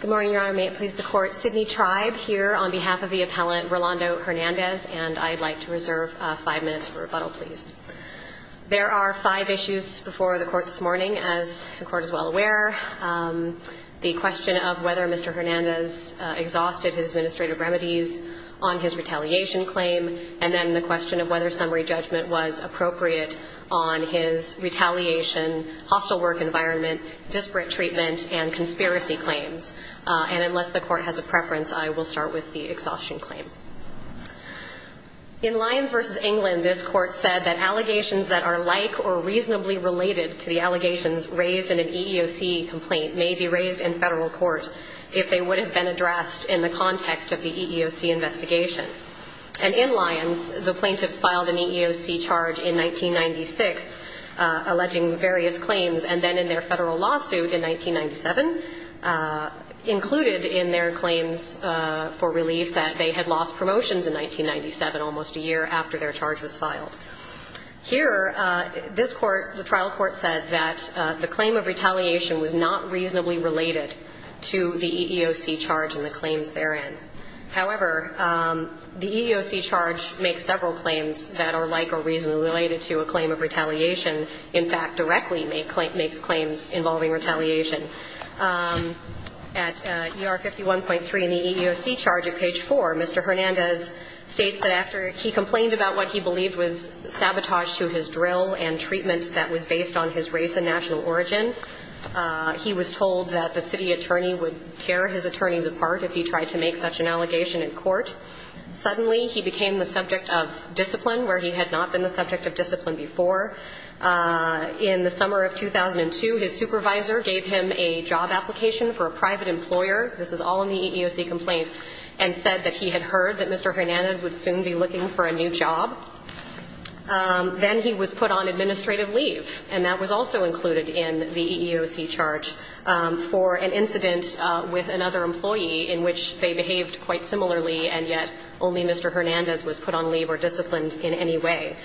Good morning, Your Honor. May it please the Court, Sidney Tribe here on behalf of the appellant, Rolando Hernandez, and I'd like to reserve five minutes for rebuttal, please. There are five issues before the Court this morning, as the Court is well aware. The question of whether Mr. Hernandez exhausted his administrative remedies on his retaliation claim, and then the question of whether summary judgment was appropriate on his retaliation, hostile work environment, disparate treatment, and conspiracy claims. And unless the Court has a preference, I will start with the exhaustion claim. In Lyons v. England, this Court said that allegations that are like or reasonably related to the allegations raised in an EEOC complaint may be raised in federal court if they would have been addressed in the context of the EEOC investigation. And in Lyons, the plaintiffs filed an EEOC charge in 1996, alleging various claims, and then in their federal lawsuit in 1997, included in their claims for relief that they had lost promotions in 1997, almost a year after their charge was filed. Here, this Court, the trial court, said that the claim of retaliation was not reasonably related to the EEOC charge and the claims therein. However, the EEOC charge makes several claims that are like or reasonably related to a claim of retaliation, in fact, directly makes claims involving retaliation. At ER 51.3 in the EEOC charge at page 4, Mr. Hernandez states that after he complained about what he believed was sabotage to his drill and treatment that was based on his race and national origin, he was told that the city attorney would tear his attorneys apart if he tried to make such an allegation in court. Suddenly, he became the subject of discipline where he had not been the subject of discipline before. In the summer of 2002, his supervisor gave him a job application for a private employer, this is all in the EEOC complaint, and said that he had heard that Mr. Hernandez would soon be looking for a new job. Then he was put on administrative leave, and that was also in the EEOC, in which they behaved quite similarly, and yet only Mr. Hernandez was put on leave or disciplined in any way.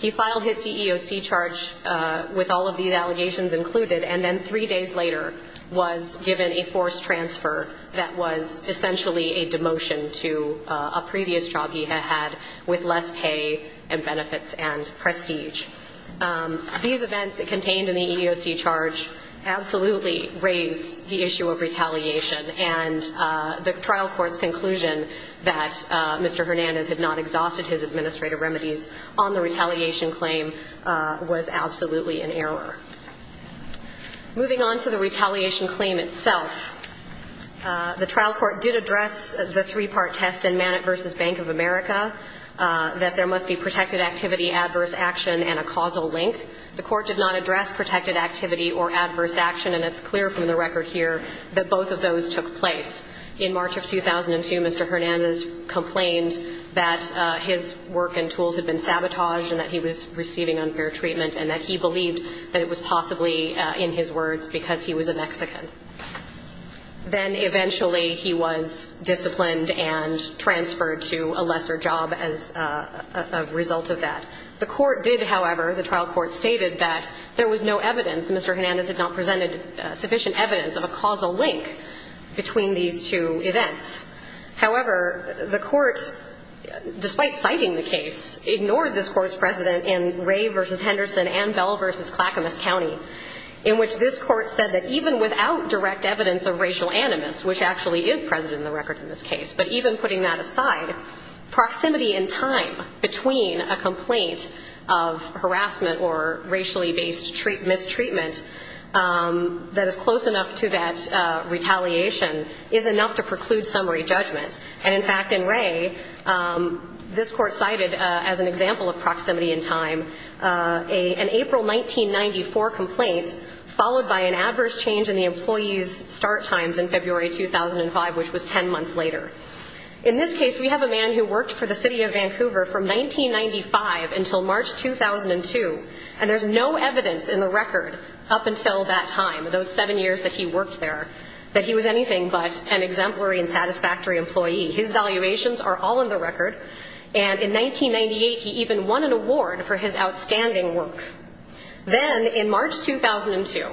He filed his EEOC charge with all of these allegations included, and then three days later was given a forced transfer that was essentially a demotion to a previous job he had had with less pay and benefits and prestige. These events contained in the EEOC charge absolutely raise the issue of retaliation, and the trial court's conclusion that Mr. Hernandez had not exhausted his administrative remedies on the retaliation claim was absolutely an error. Moving on to the retaliation claim itself, the trial court did address the three-part test in Manet v. Bank of America, that there must be protected activity, adverse action, and a causal link. The court did not address protected activity or adverse action, and it's clear from the record here that both of those took place. In March of 2002, Mr. Hernandez complained that his work and tools had been sabotaged and that he was receiving unfair treatment and that he believed that it was possibly in his words because he was a Mexican. Then eventually he was disciplined and transferred to a lesser job as a result of that. The court did, however, the trial court stated that there was no evidence, Mr. Hernandez had not presented sufficient evidence of a causal link between these two events. However, the court, despite citing the case, ignored this court's precedent in Ray v. Henderson and Bell v. Clackamas County, in which this court said that even without direct evidence of racial animus, which actually is present in the record in this case, but even putting that aside, proximity in time between a complaint of harassment or racially based mistreatment that is close enough to that retaliation is enough to preclude summary judgment. And in fact, in Ray, this court cited as an example of proximity in time an April 1994 complaint followed by an adverse change in the employee's start times in February 2005, which was ten months later. In this case, we have a man who worked for the city of Vancouver from 1995 until March 2002, and there's no evidence in the record up until that time, those seven years that he worked there, that he was anything but an exemplary and satisfactory employee. His valuations are all in the record. And in 1998, he even won an award for his outstanding work. Then in March 2002,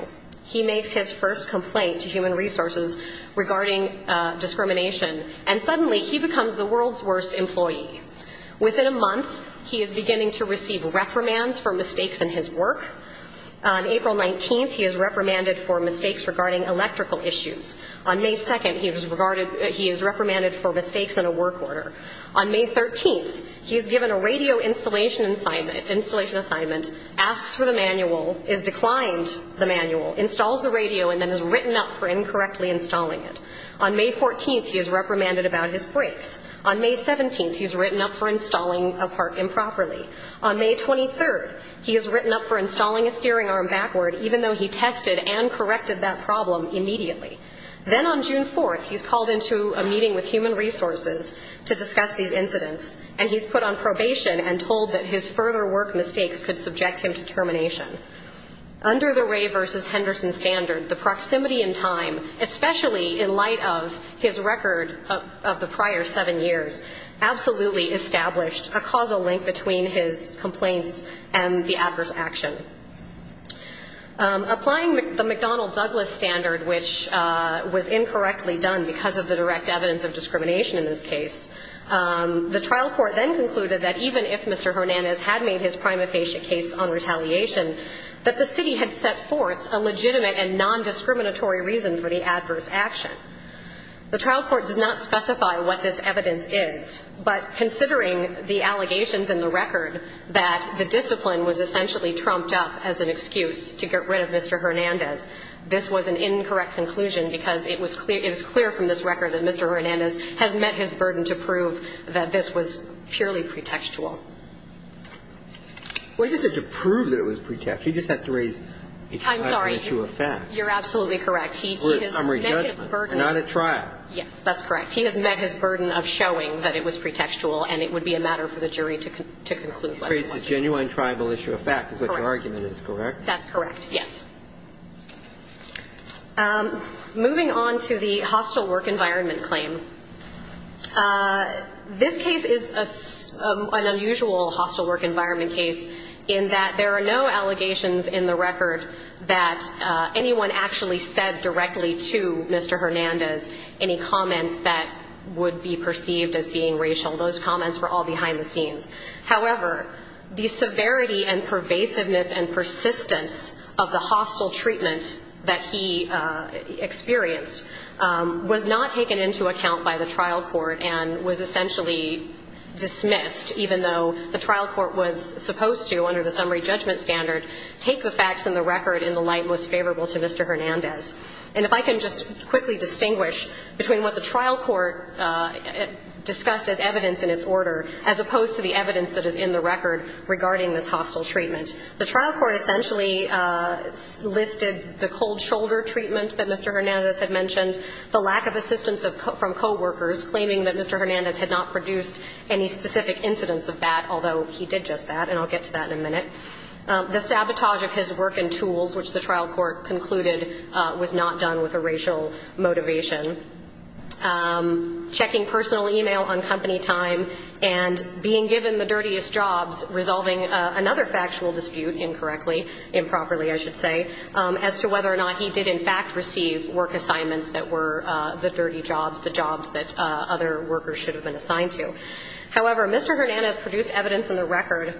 he makes his first complaint to human resources regarding discrimination, and suddenly he becomes the world's worst employee. Within a month, he is beginning to receive reprimands for mistakes in his work. On April 19th, he is reprimanded for mistakes regarding electrical issues. On May 2nd, he is reprimanded for mistakes in a work order. On May 13th, he is given a radio installation assignment, asks for the manual, is declined the manual, installs the radio, and then is written up for incorrectly installing it. On May 14th, he is reprimanded about his brakes. On May 17th, he's written up for installing a part improperly. On May 23rd, he is written up for installing a steering arm backward, even though he tested and corrected that problem immediately. Then on June 4th, he's called into a meeting with human resources to discuss these incidents, and he's put on probation and told that his further work mistakes could subject him to termination. Under the Ray versus Henderson standard, the proximity in time, especially in light of his record of the prior seven years, absolutely established a causal link between his complaints and the adverse action. Applying the McDonnell-Douglas standard, which was incorrectly done because of the direct evidence of discrimination in this case, the trial court then concluded that even if Mr. Hernandez had not been charged with a crime of facial case on retaliation, that the city had set forth a legitimate and nondiscriminatory reason for the adverse action. The trial court does not specify what this evidence is, but considering the allegations in the record that the discipline was essentially trumped up as an excuse to get rid of Mr. Hernandez, this was an incorrect conclusion because it was clear – it is clear from this record that Mr. Hernandez has met his burden to prove that this was purely pretextual. Well, he doesn't have to prove that it was pretextual. He just has to raise a tribal issue of fact. I'm sorry. You're absolutely correct. He has met his burden. We're a summary judgment. We're not at trial. Yes, that's correct. He has met his burden of showing that it was pretextual, and it would be a matter for the jury to conclude what it was. To raise a genuine tribal issue of fact is what your argument is, correct? Correct. That's correct, yes. Moving on to the hostile work environment claim. This case is an unusual hostile work environment case in that there are no allegations in the record that anyone actually said directly to Mr. Hernandez any comments that would be perceived as being racial. Those comments were all behind the scenes. However, the severity and pervasiveness and persistence of the hostile treatment that he experienced was not taken into account by the trial court and was essentially dismissed, even though the trial court was supposed to, under the summary judgment standard, take the facts in the record in the light most favorable to Mr. Hernandez. And if I can just quickly distinguish between what the trial court discussed as evidence in its order as opposed to the evidence that is in the record regarding this hostile treatment, the trial court essentially listed the cold shoulder treatment that Mr. Hernandez had mentioned, the lack of assistance from coworkers claiming that Mr. Hernandez had not produced any specific incidents of that, although he did just that, and I'll get to that in a minute. The sabotage of his work and tools, which the trial court concluded was not done with a racial motivation. Checking personal e-mail on company time and being given the dirtiest jobs, resolving another factual dispute incorrectly, improperly I should say, as to whether or not he did in fact receive work assignments that were the dirty jobs, the jobs that other workers should have been assigned to. However, Mr. Hernandez produced evidence in the record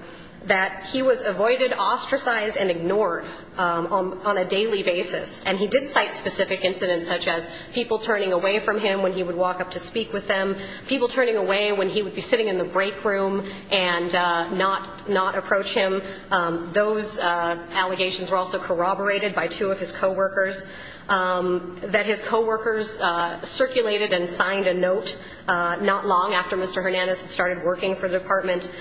that he was avoided, ostracized and ignored on a daily basis, and he did cite specific incidents such as people turning away from him when he would walk up to speak with them, people turning away when he would be sitting in the break room and not approach him. Those allegations were also corroborated by two of his coworkers, that his coworkers circulated and signed a note not long after Mr. Hernandez had started working for the department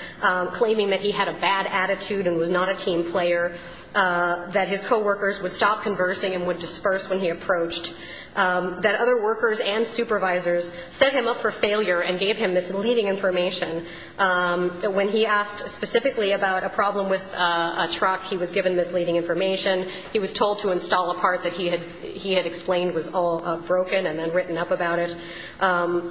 claiming that he had a bad attitude and was not a team player, that his coworkers would stop conversing and would disperse when he approached, that other workers and supervisors set him up for failure and gave him misleading information. When he asked specifically about a problem with a truck, he was given misleading information. He was told to install a part that he had explained was all broken and then written up about it,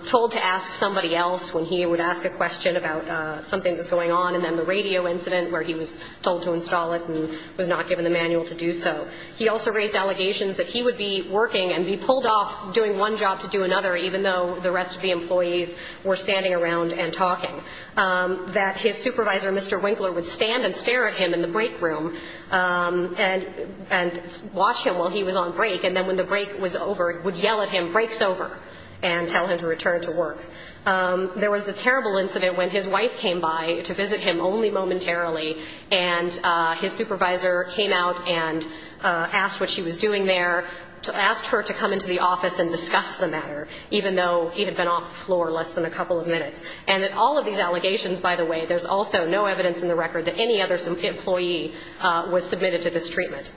told to ask somebody else when he would ask a question about something that was going on, and then the radio incident where he was told to install it and was not given the manual to do so. He also raised allegations that he would be working and be pulled off doing one job to do another, even though the rest of the employees were standing around and talking, that his supervisor, Mr. Winkler, would stand and stare at him in the break room and watch him while he was on break, and then when the break was over, would yell at him, break's over, and tell him to return to work. There was the terrible incident when his wife came by to visit him only momentarily, and his supervisor came out and asked what she was doing there, asked her to come into the office and discuss the matter, even though he had been off the floor less than a couple of minutes. And in all of these allegations, by the way, there's also no evidence in the record that any other employee was submitted to this treatment.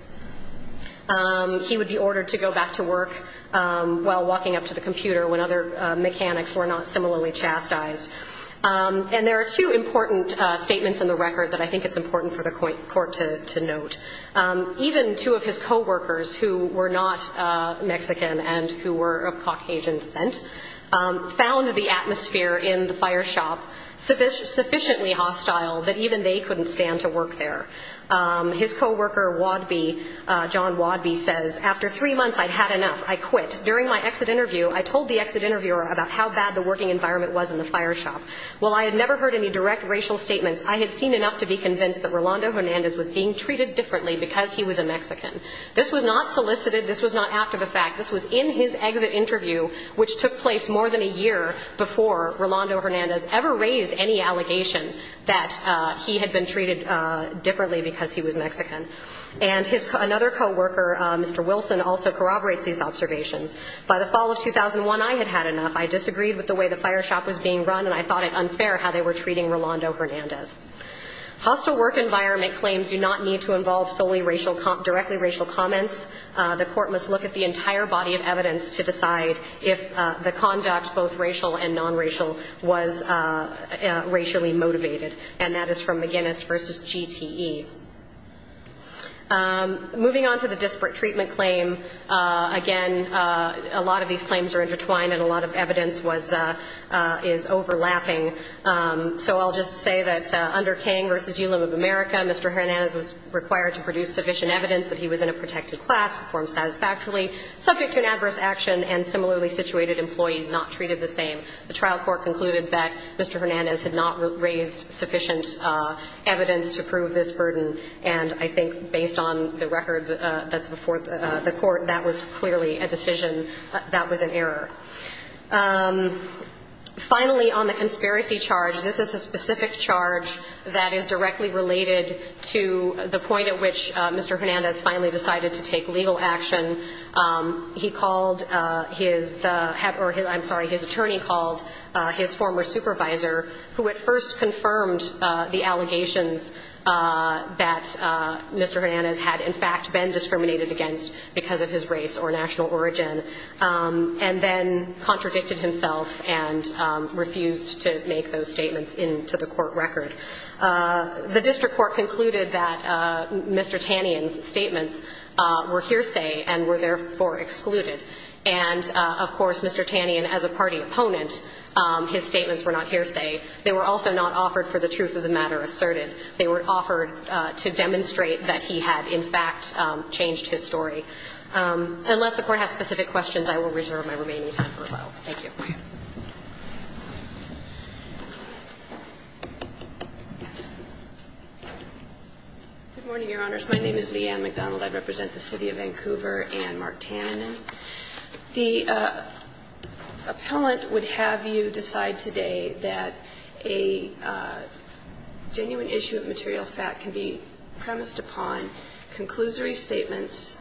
He would be ordered to go back to work while walking up to the computer when other mechanics were not similarly chastised. And there are two important statements in the record that I think it's important for the court to note. Even two of his co-workers, who were not Mexican and who were of Caucasian descent, found the atmosphere in the fire shop sufficiently hostile that even they couldn't stand to work there. His co-worker, John Wadby, says, After three months, I'd had enough. I quit. During my exit interview, I told the exit interviewer about how bad the working environment was in the fire shop. While I had never heard any direct racial statements, I had seen enough to be convinced that Rolando Hernandez was being treated differently because he was a Mexican. This was not solicited. This was not after the fact. This was in his exit interview, which took place more than a year before Rolando Hernandez ever raised any allegation that he had been treated differently because he was Mexican. And his another co-worker, Mr. Wilson, also corroborates these observations. By the fall of 2001, I had had enough. I disagreed with the way the fire shop was being run, and I thought it unfair how they were treating Rolando Hernandez. Hostile work environment claims do not need to involve solely directly racial comments. The court must look at the entire body of evidence to decide if the conduct, both racial and non-racial, was racially motivated. And that is from McGinnis v. GTE. Moving on to the disparate treatment claim, again, a lot of these claims are intertwined, and a lot of evidence is overlapping. So I'll just say that under King v. Ulim of America, Mr. Hernandez was required to produce sufficient evidence that he was in a protected class, performed satisfactorily, subject to an adverse action, and similarly situated employees not treated the same. The trial court concluded that Mr. Hernandez had not raised sufficient evidence to prove this burden, and I think based on the record that's before the court, that was clearly a decision that was an error. Finally, on the conspiracy charge, this is a specific charge that is directly related to the point at which Mr. Hernandez finally decided to take legal action. He called his head or his ‑‑ I'm sorry, his attorney called his former supervisor, who at first confirmed the allegations that Mr. Hernandez had in fact been discriminated against because of his race or national origin, and then contradicted himself and refused to make those statements into the court record. The district court concluded that Mr. Tannion's statements were hearsay and were therefore excluded. And, of course, Mr. Tannion, as a party opponent, his statements were not hearsay. They were also not offered for the truth of the matter asserted. They were offered to demonstrate that he had in fact changed his story. Unless the court has specific questions, I will reserve my remaining time for rebuttal. Thank you. Okay. Good morning, Your Honors. My name is Leanne McDonald. I represent the City of Vancouver and Mark Tannion. The appellant would have you decide today that a genuine issue of material fact can be premised upon conclusory statements,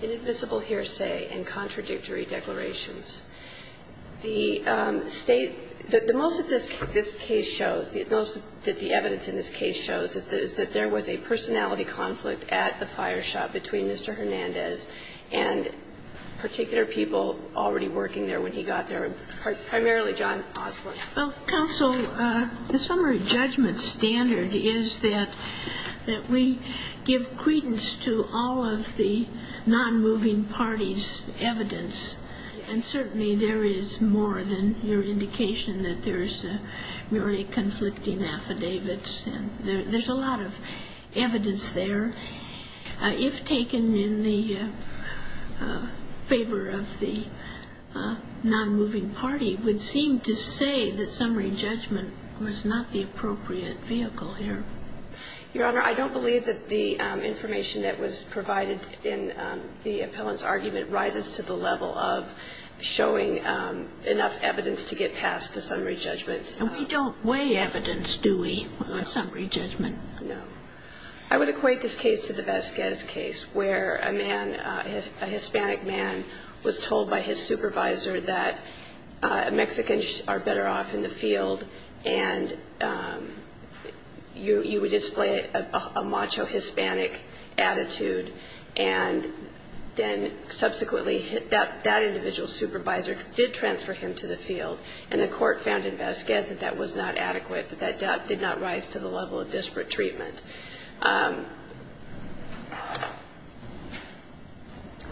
inadmissible hearsay, and contradictory declarations. The State – the most that this case shows, the most that the evidence in this case shows is that there was a personality conflict at the fire shop between Mr. Hernandez and particular people already working there when he got there, primarily John Osborne. Well, counsel, the summary judgment standard is that we give credence to all of the nonmoving parties' evidence. And certainly there is more than your indication that there's very conflicting affidavits. There's a lot of evidence there. If taken in the favor of the nonmoving party, it would seem to say that summary judgment was not the appropriate vehicle here. Your Honor, I don't believe that the information that was provided in the appellant's showing enough evidence to get past the summary judgment. And we don't weigh evidence, do we, on summary judgment? No. I would equate this case to the Vasquez case where a man, a Hispanic man, was told by his supervisor that Mexicans are better off in the field and you would display a macho Hispanic attitude and then subsequently that individual supervisor did transfer him to the field and the court found in Vasquez that that was not adequate, that that did not rise to the level of disparate treatment.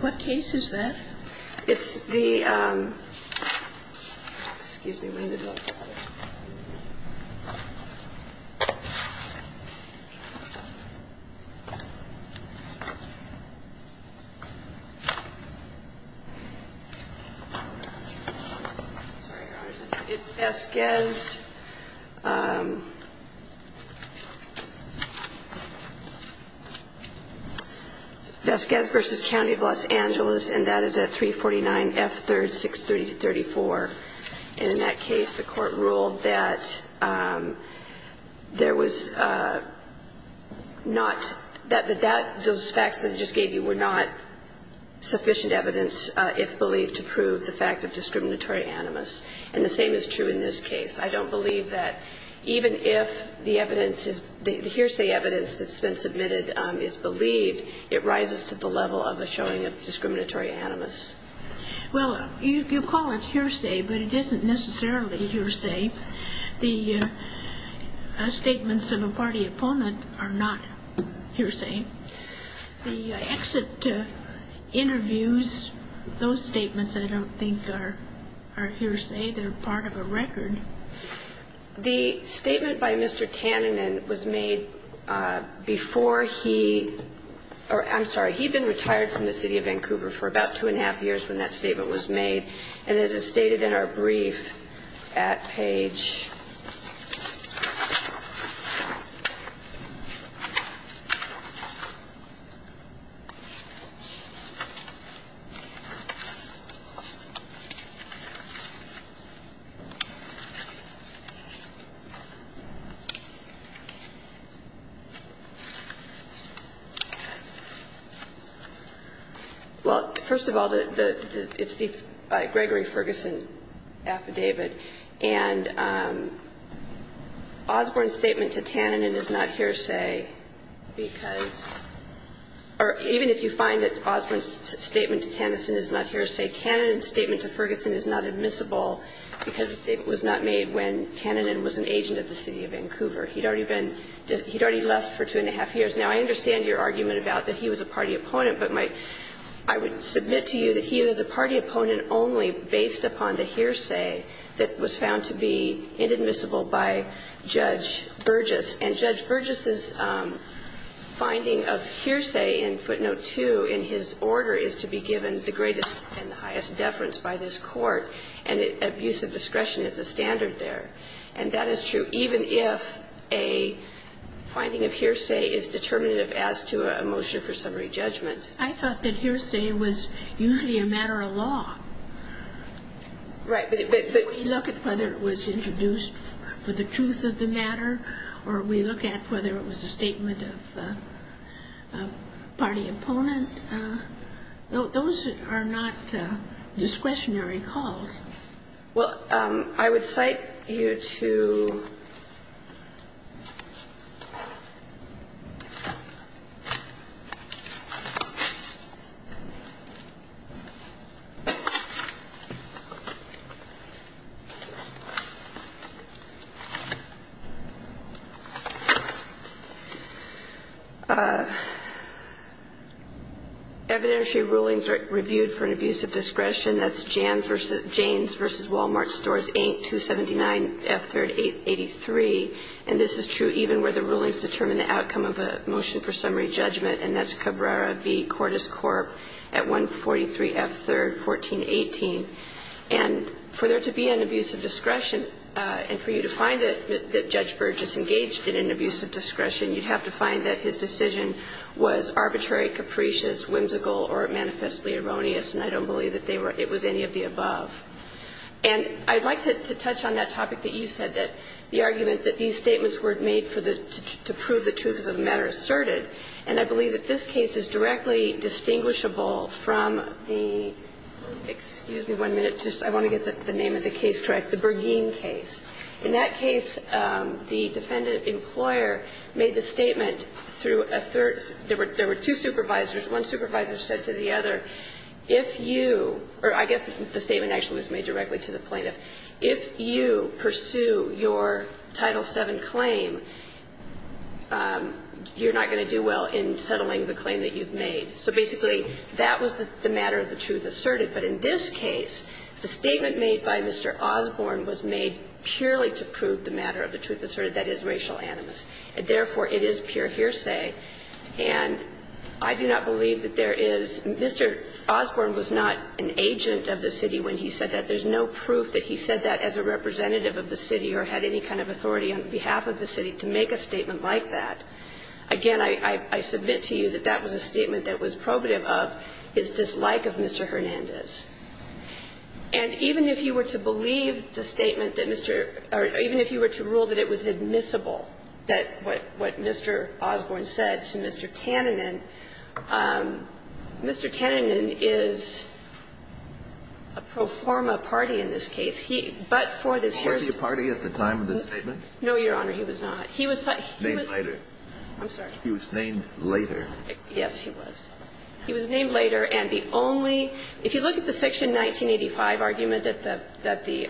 What case is that? It's the – excuse me. It's Vasquez. Vasquez v. County of Los Angeles, and that is at 349 F. 3rd, 630-34. In that case, the court ruled that there was not – that those facts that it just gave you were not sufficient evidence, if believed to prove the fact of discriminatory animus. And the same is true in this case. I don't believe that even if the evidence is – the hearsay evidence that's been submitted is believed, it rises to the level of a showing of discriminatory animus. Well, you call it hearsay, but it isn't necessarily hearsay. The statements of a party opponent are not hearsay. The exit interviews, those statements I don't think are hearsay. They're part of a record. The statement by Mr. Tanninen was made before he –– in the years when that statement was made. And as is stated in our brief at page – It's the Gregory Ferguson affidavit. And Osborne's statement to Tanninen is not hearsay because – or even if you find that Osborne's statement to Tanninen is not hearsay, Tanninen's statement to Ferguson is not admissible because the statement was not made when Tanninen was an agent of the City of Vancouver. He'd already been – he'd already left for two and a half years. Now, I understand your argument about that he was a party opponent, but my – I would submit to you that he was a party opponent only based upon the hearsay that was found to be inadmissible by Judge Burgess. And Judge Burgess's finding of hearsay in footnote 2 in his order is to be given the greatest and the highest deference by this Court, and abusive discretion is the standard there. And that is true even if a finding of hearsay is determinative as to a motion for summary judgment. I thought that hearsay was usually a matter of law. Right, but – We look at whether it was introduced for the truth of the matter, or we look at whether it was a statement of party opponent. Those are not discretionary calls. Well, I would cite you to evidentiary rulings reviewed for an abusive discretion. That's Janes v. Wal-Mart Stores, Inc., 279 F. 3rd, 883. And this is true even where the rulings determine the outcome of a motion for summary judgment, and that's Cabrera v. Cordis Corp. at 143 F. 3rd, 1418. And for there to be an abusive discretion, and for you to find that Judge Burgess engaged in an abusive discretion, you'd have to find that his decision was arbitrary, capricious, whimsical, or manifestly erroneous. And I don't believe that they were – it was any of the above. And I'd like to touch on that topic that you said, that the argument that these statements were made for the – to prove the truth of the matter asserted. And I believe that this case is directly distinguishable from the – excuse me one minute. I want to get the name of the case correct. The Bergeen case. In that case, the defendant employer made the statement through a third – there were two supervisors. One supervisor said to the other, if you – or I guess the statement actually was made directly to the plaintiff. If you pursue your Title VII claim, you're not going to do well in settling the claim that you've made. So basically, that was the matter of the truth asserted. But in this case, the statement made by Mr. Osborne was made purely to prove the matter of the truth asserted, that is, racial animus. And therefore, it is pure hearsay. And I do not believe that there is – Mr. Osborne was not an agent of the city when he said that. There's no proof that he said that as a representative of the city or had any kind of authority on behalf of the city to make a statement like that. Again, I submit to you that that was a statement that was probative of his dislike of Mr. Hernandez. And even if you were to believe the statement that Mr. – or even if you were to believe that it was admissible that what Mr. Osborne said to Mr. Tannenin, Mr. Tannenin is a pro forma party in this case. He – but for this hearsay – Kennedy. Was he a party at the time of this statement? No, Your Honor, he was not. He was – he was – Named later. I'm sorry. He was named later. Yes, he was. He was named later. And the only – if you look at the Section 1985 argument that the – that the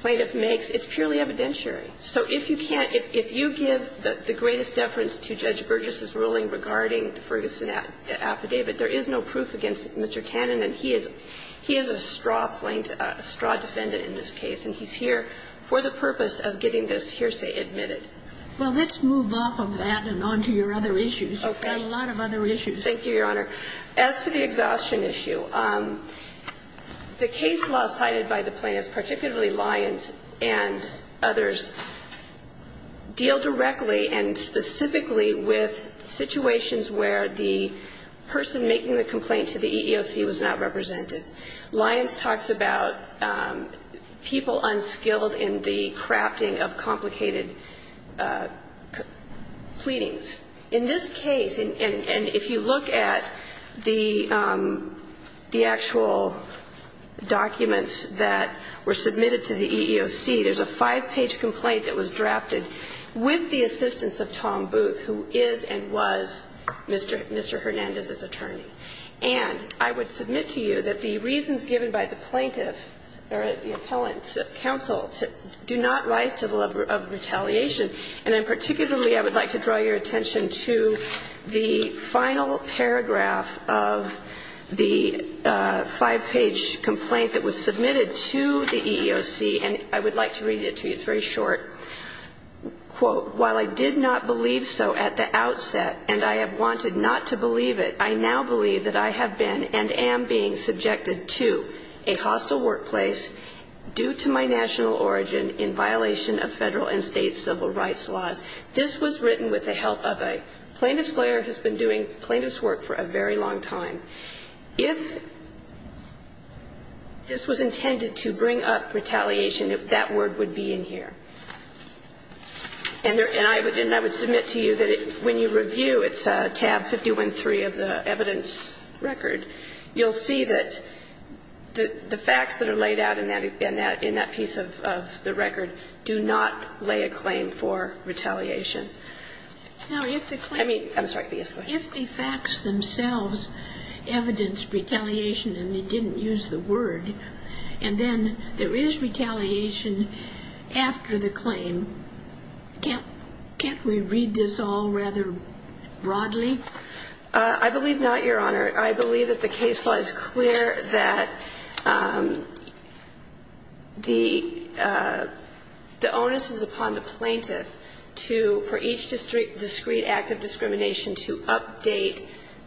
plaintiff makes, it's purely evidentiary. So if you can't – if you give the greatest deference to Judge Burgess's ruling regarding the Ferguson affidavit, there is no proof against Mr. Tannenin. He is a straw plaintiff – a straw defendant in this case, and he's here for the purpose of getting this hearsay admitted. Well, let's move off of that and on to your other issues. Okay. We've got a lot of other issues. Thank you, Your Honor. As to the exhaustion issue, the case law cited by the plaintiffs, particularly Lyons and others, deal directly and specifically with situations where the person making the complaint to the EEOC was not represented. Lyons talks about people unskilled in the crafting of complicated pleadings. In this case, and if you look at the actual documents that were submitted to the EEOC, there's a five-page complaint that was drafted with the assistance of Tom Booth, who is and was Mr. Hernandez's attorney. And I would submit to you that the reasons given by the plaintiff or the appellant counsel do not rise to the level of retaliation. And then particularly I would like to draw your attention to the final paragraph of the five-page complaint that was submitted to the EEOC, and I would like to read it to you. It's very short. Quote, while I did not believe so at the outset and I have wanted not to believe it, I now believe that I have been and am being subjected to a hostile workplace due to my national origin in violation of Federal and State civil rights laws. This was written with the help of a plaintiff's lawyer who has been doing plaintiff's work for a very long time. If this was intended to bring up retaliation, that word would be in here. And I would submit to you that when you review, it's tab 513 of the evidence record, you'll see that the facts that are laid out in that piece of the record do not lay a claim for retaliation. I mean, I'm sorry. Yes, go ahead. If the facts themselves evidence retaliation and you didn't use the word, and then there is retaliation after the claim, can't we read this all rather broadly? I believe not, Your Honor. I believe that the case lies clear that the onus is upon the plaintiff to, for each discrete act of discrimination, to update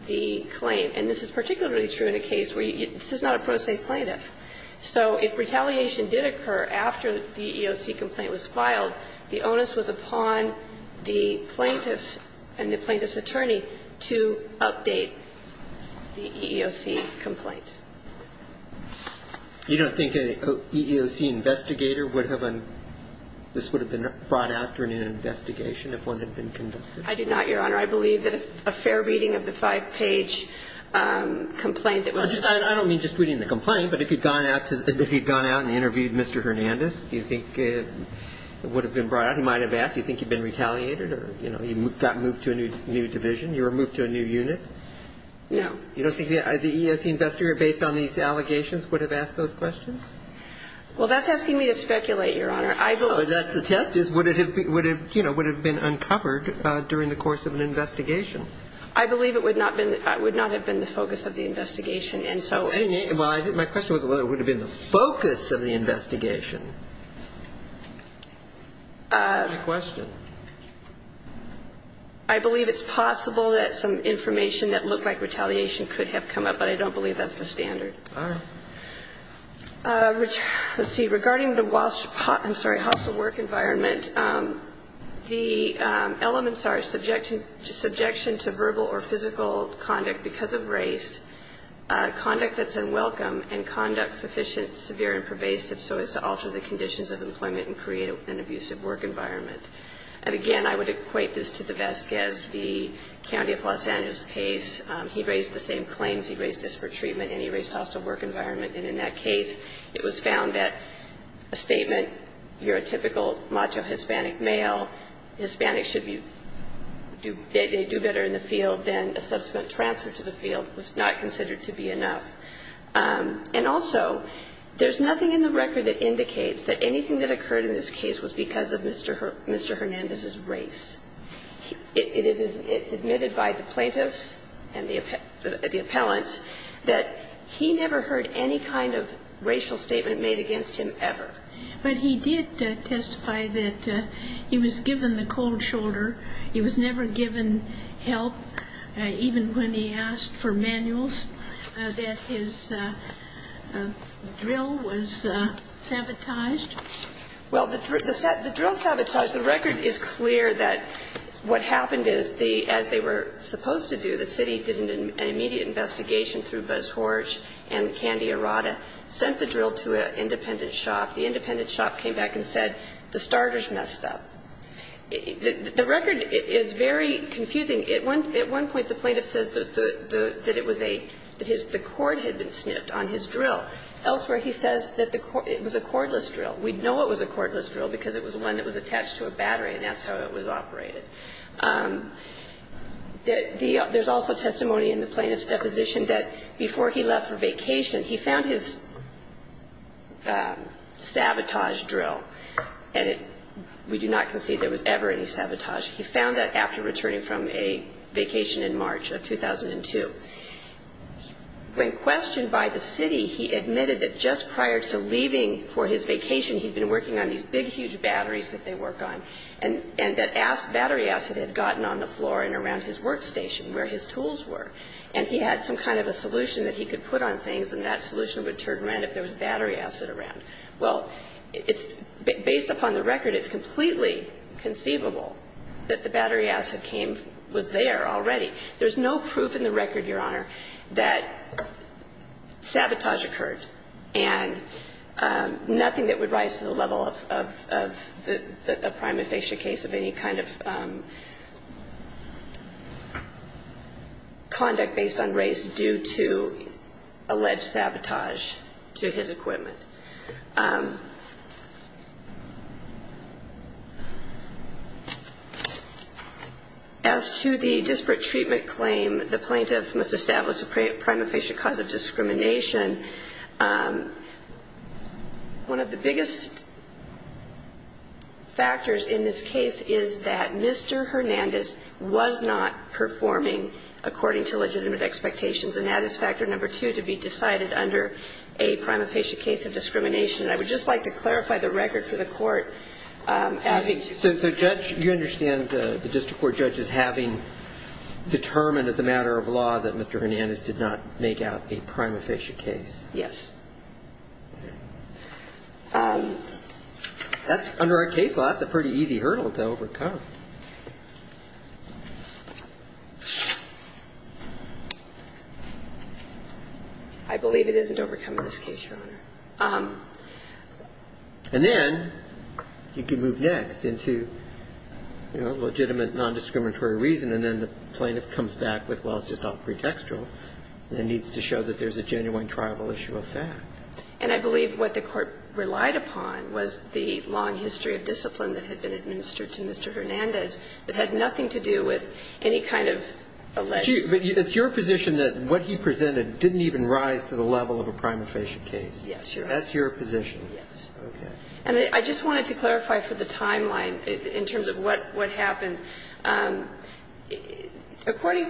the claim. And this is particularly true in a case where this is not a pro se plaintiff. So if retaliation did occur after the EOC complaint was filed, the onus was upon the plaintiff and the plaintiff's attorney to update the EEOC complaint. You don't think an EEOC investigator would have a – this would have been brought out during an investigation if one had been conducted? I do not, Your Honor. I believe that a fair reading of the five-page complaint that was – I don't mean just reading the complaint, but if you'd gone out to – if you'd gone out and interviewed Mr. Hernandez, do you think it would have been brought out? He might have asked, do you think you've been retaliated or, you know, you got moved to a new division? You were moved to a new unit? No. You don't think the EEOC investigator, based on these allegations, would have asked those questions? Well, that's asking me to speculate, Your Honor. I believe – Well, that's the test, is would it have, you know, would it have been uncovered during the course of an investigation? I believe it would not have been the focus of the investigation, and so – Well, my question was whether it would have been the focus of the investigation. My question. I believe it's possible that some information that looked like retaliation could have come up, but I don't believe that's the standard. All right. Let's see. Regarding the – I'm sorry – hostile work environment, the elements are subjection to verbal or physical conduct because of race, conduct that's unwelcome, and conduct that's sufficient, severe, and pervasive so as to alter the conditions of employment and create an abusive work environment. And again, I would equate this to DeVesque as the county of Los Angeles case. He raised the same claims. He raised disparate treatment, and he raised hostile work environment. And in that case, it was found that a statement, you're a typical macho Hispanic male, Hispanics should be – they do better in the field than a subsequent transfer to the field was not considered to be enough. And also, there's nothing in the record that indicates that anything that occurred in this case was because of Mr. Hernandez's race. It's admitted by the plaintiffs and the appellants that he never heard any kind of racial statement made against him ever. But he did testify that he was given the cold shoulder. He was never given help, even when he asked for manuals, that his drill was sabotaged. Well, the drill sabotaged. The record is clear that what happened is, as they were supposed to do, the city did an immediate investigation through Buzz Horsch and Candy Arada, sent the drill to an independent shop. The independent shop came back and said, the starter's messed up. The record is very confusing. At one point, the plaintiff says that it was a – that the cord had been snipped on his drill. Elsewhere, he says that it was a cordless drill. We know it was a cordless drill because it was one that was attached to a battery, and that's how it was operated. There's also testimony in the plaintiff's deposition that before he left for vacation, he found his sabotage drill. And we do not concede there was ever any sabotage. He found that after returning from a vacation in March of 2002. When questioned by the city, he admitted that just prior to leaving for his vacation, he'd been working on these big, huge batteries that they work on, and that battery acid had gotten on the floor and around his workstation where his tools were. And he had some kind of a solution that he could put on things, and that solution would turn around if there was battery acid around. Well, it's – based upon the record, it's completely conceivable that the battery acid came – was there already. There's no proof in the record, Your Honor, that sabotage occurred. And nothing that would rise to the level of the prime infatia case of any kind of conduct based on race due to alleged sabotage to his equipment. As to the disparate treatment claim, the plaintiff must establish a prime infatia cause of discrimination. One of the biggest factors in this case is that Mr. Hernandez was not performing according to legitimate expectations. And that is factor number two, to be decided under a prime infatia case of discrimination. And I would just like to clarify the record for the Court. So, Judge, you understand the district court judge is having determined as a matter of law that Mr. Hernandez did not make out a prime infatia case? Yes. That's – under our case law, that's a pretty easy hurdle to overcome. I believe it isn't overcome in this case, Your Honor. And then you can move next into, you know, legitimate nondiscriminatory reason, and then the plaintiff comes back with, well, it's just all pretextual and needs to show that there's a genuine triable issue of fact. And I believe what the Court relied upon was the long history of discipline that had been administered to Mr. Hernandez that had nothing to do with any kind of alleged – But it's your position that what he presented didn't even rise to the level of a prime infatia case? Yes, Your Honor. That's your position? Yes. Okay. And I just wanted to clarify for the timeline in terms of what happened. According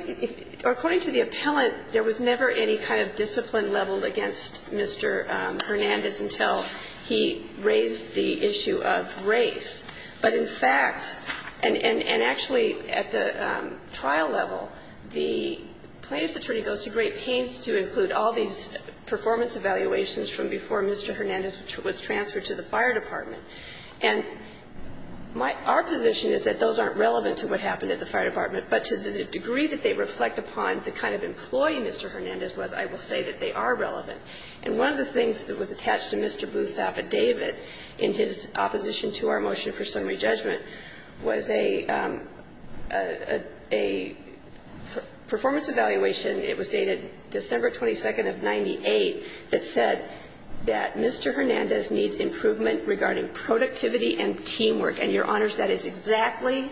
to the appellant, there was never any kind of discipline leveled against Mr. Hernandez until he raised the issue of race. But, in fact, and actually at the trial level, the plaintiff's attorney goes to great pains to include all these performance evaluations from before Mr. Hernandez was transferred to the fire department. And my – our position is that those aren't relevant to what happened at the fire department, but to the degree that they reflect upon the kind of employee Mr. Hernandez was, I will say that they are relevant. And one of the things that was attached to Mr. Bluth's affidavit in his opposition to our motion for summary judgment was a – a performance evaluation, it was dated December 22nd of 98, that said that Mr. Hernandez needs improvement regarding productivity and teamwork. And, Your Honors, that is exactly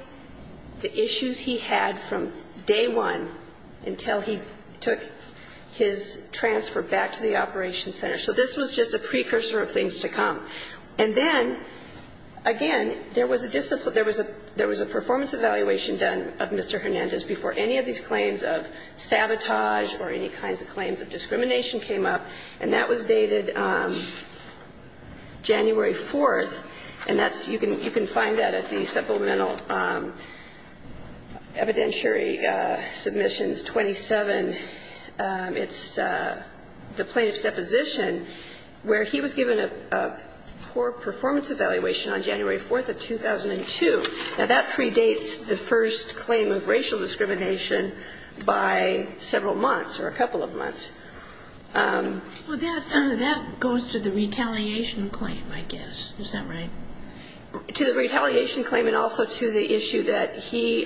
the issues he had from day one until he took his transfer back to the operations center. So this was just a precursor of things to come. And then, again, there was a discipline – there was a – there was a performance evaluation done of Mr. Hernandez before any of these claims of sabotage or any kinds of claims of discrimination came up, and that was dated January 4th. And that's – you can – you can find that at the supplemental evidentiary submissions 27. It's the plaintiff's deposition where he was given a poor performance evaluation on January 4th of 2002. Now, that predates the first claim of racial discrimination by several months or a couple of months. Well, that – that goes to the retaliation claim, I guess. Is that right? To the retaliation claim, and also to the issue that he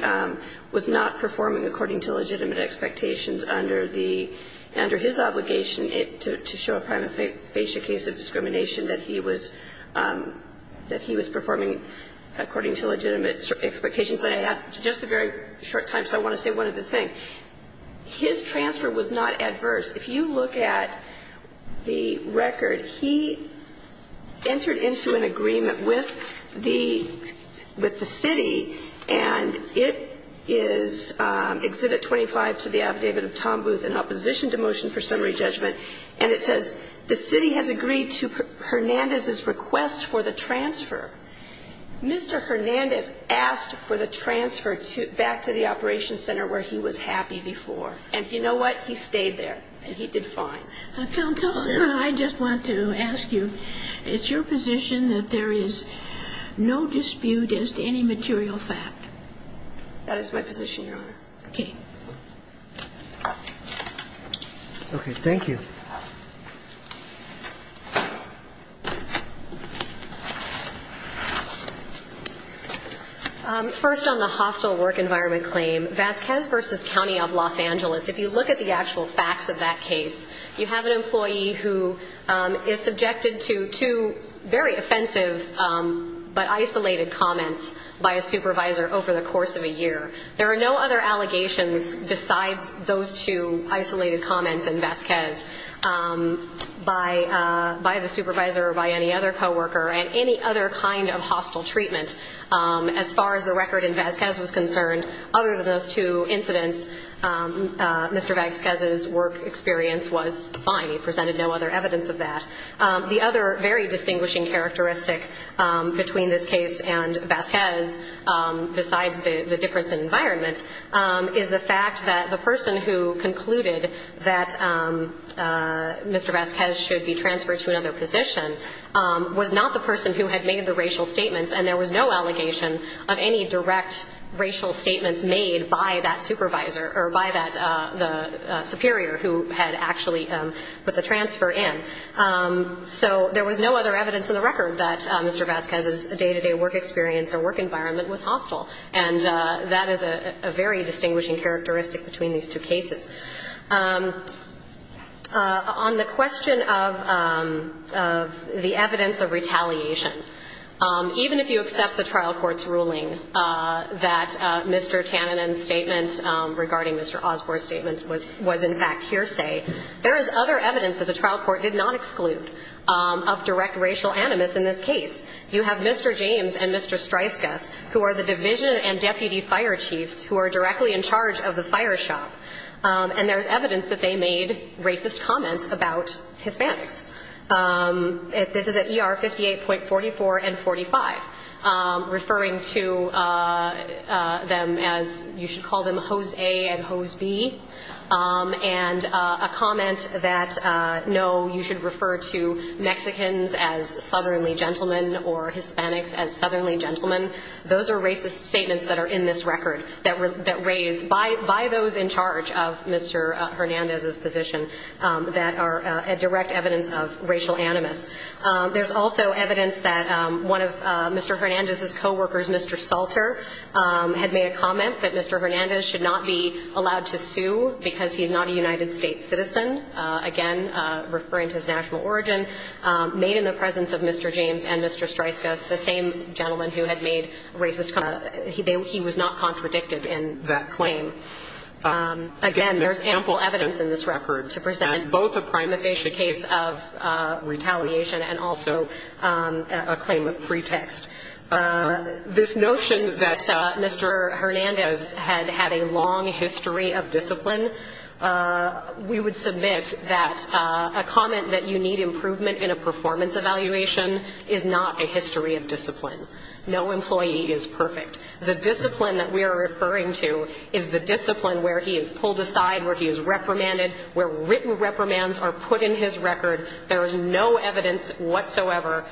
was not performing according to legitimate expectations under the – under his obligation to show a prima facie case of discrimination, that he was – that he was performing according to legitimate expectations. And I have just a very short time, so I want to say one other thing. His transfer was not adverse. If you look at the record, he entered into an agreement with the – with the city, and it is Exhibit 25 to the Affidavit of Tom Booth in Opposition to Motion for Summary Judgment, and it says, The city has agreed to Hernandez's request for the transfer. Mr. Hernandez asked for the transfer back to the operations center where he was happy before. And you know what? He stayed there, and he did fine. Counsel, I just want to ask you, is your position that there is no dispute as to any material fact? That is my position, Your Honor. Okay. Okay, thank you. First, on the hostile work environment claim, Vasquez v. County of Los Angeles, if you look at the actual facts of that case, you have an employee who is subjected to two very offensive but isolated comments by a supervisor over the course of a year. There are no other allegations besides those two isolated comments in Vasquez by the supervisor or by any other coworker, and any other kind of hostile treatment. As far as the record in Vasquez was concerned, other than those two incidents, Mr. Vasquez's work experience was fine. He presented no other evidence of that. The other very distinguishing characteristic between this case and Vasquez, besides the difference in environment, is the fact that the person who concluded that Mr. Vasquez should be transferred to another position was not the person who had made the racial statements, and there was no allegation of any direct racial statements made by that supervisor or by that superior who had actually put the transfer in. So there was no other evidence in the record that Mr. Vasquez's day-to-day work experience or work environment was hostile, and that is a very distinguishing characteristic between these two cases. On the question of the evidence of retaliation, even if you accept the trial court's ruling that Mr. Tanninen's statement regarding Mr. Osborne's statement was in fact hearsay, there is other evidence that the trial court did not exclude of direct racial animus in this case. You have Mr. James and Mr. Streisgath, who are the division and deputy fire chiefs who are directly in charge of the fire shop. And there's evidence that they made racist comments about Hispanics. This is at ER 58.44 and 45, referring to them as, you should call them hose A and hose B, and a comment that, no, you should refer to Mexicans as southerly gentlemen or Hispanics as southerly gentlemen. Those are racist statements that are in this record, that were raised by those in charge of Mr. Hernandez's position that are a direct evidence of racial animus. There's also evidence that one of Mr. Hernandez's coworkers, Mr. Salter, had made a comment that Mr. Hernandez should not be allowed to sue because he's not a United States citizen, again referring to his national origin, made in the presence of Mr. James and Mr. Streisgath, the same gentleman who had made racist comments. He was not contradicted in that claim. Again, there's ample evidence in this record to present both a prima facie case of retaliation and also a claim of pretext. This notion that Mr. Hernandez had had a long history of discipline, we would submit that a comment that you need improvement in a performance evaluation is not a history of discipline. No employee is perfect. The discipline that we are referring to is the discipline where he is pulled aside, where he is reprimanded, where written reprimands are put in his record. There is no evidence whatsoever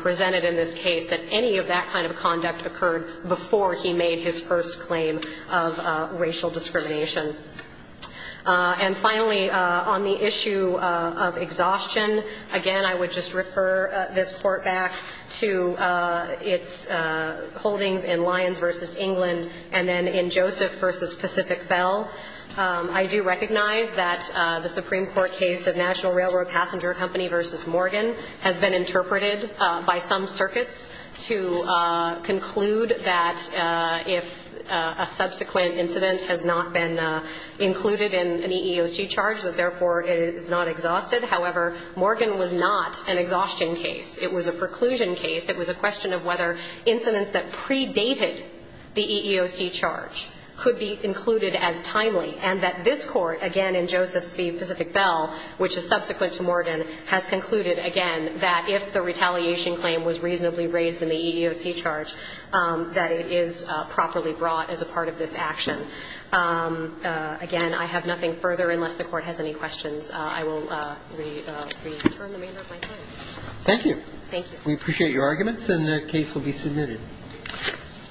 presented in this case that any of that kind of conduct occurred before he made his first claim of racial discrimination. And finally, on the issue of exhaustion, again, I would just refer this Court back to its holdings in Lyons v. England and then in Joseph v. Pacific Bell. I do recognize that the Supreme Court case of National Railroad Passenger Company v. Morgan has been interpreted by some circuits to conclude that if a subsequent incident has not been included in an EEOC charge, that therefore it is not exhausted. However, Morgan was not an exhaustion case. It was a preclusion case. It was a question of whether incidents that predated the EEOC charge could be included as timely, and that this Court, again, in Joseph v. Pacific Bell, which is subsequent to Morgan, has concluded, again, that if the retaliation claim was reasonably raised in the EEOC charge, that it is properly brought as a part of this action. Again, I have nothing further unless the Court has any questions. I will return the remainder of my time. Thank you. Thank you. We appreciate your arguments, and the case will be submitted.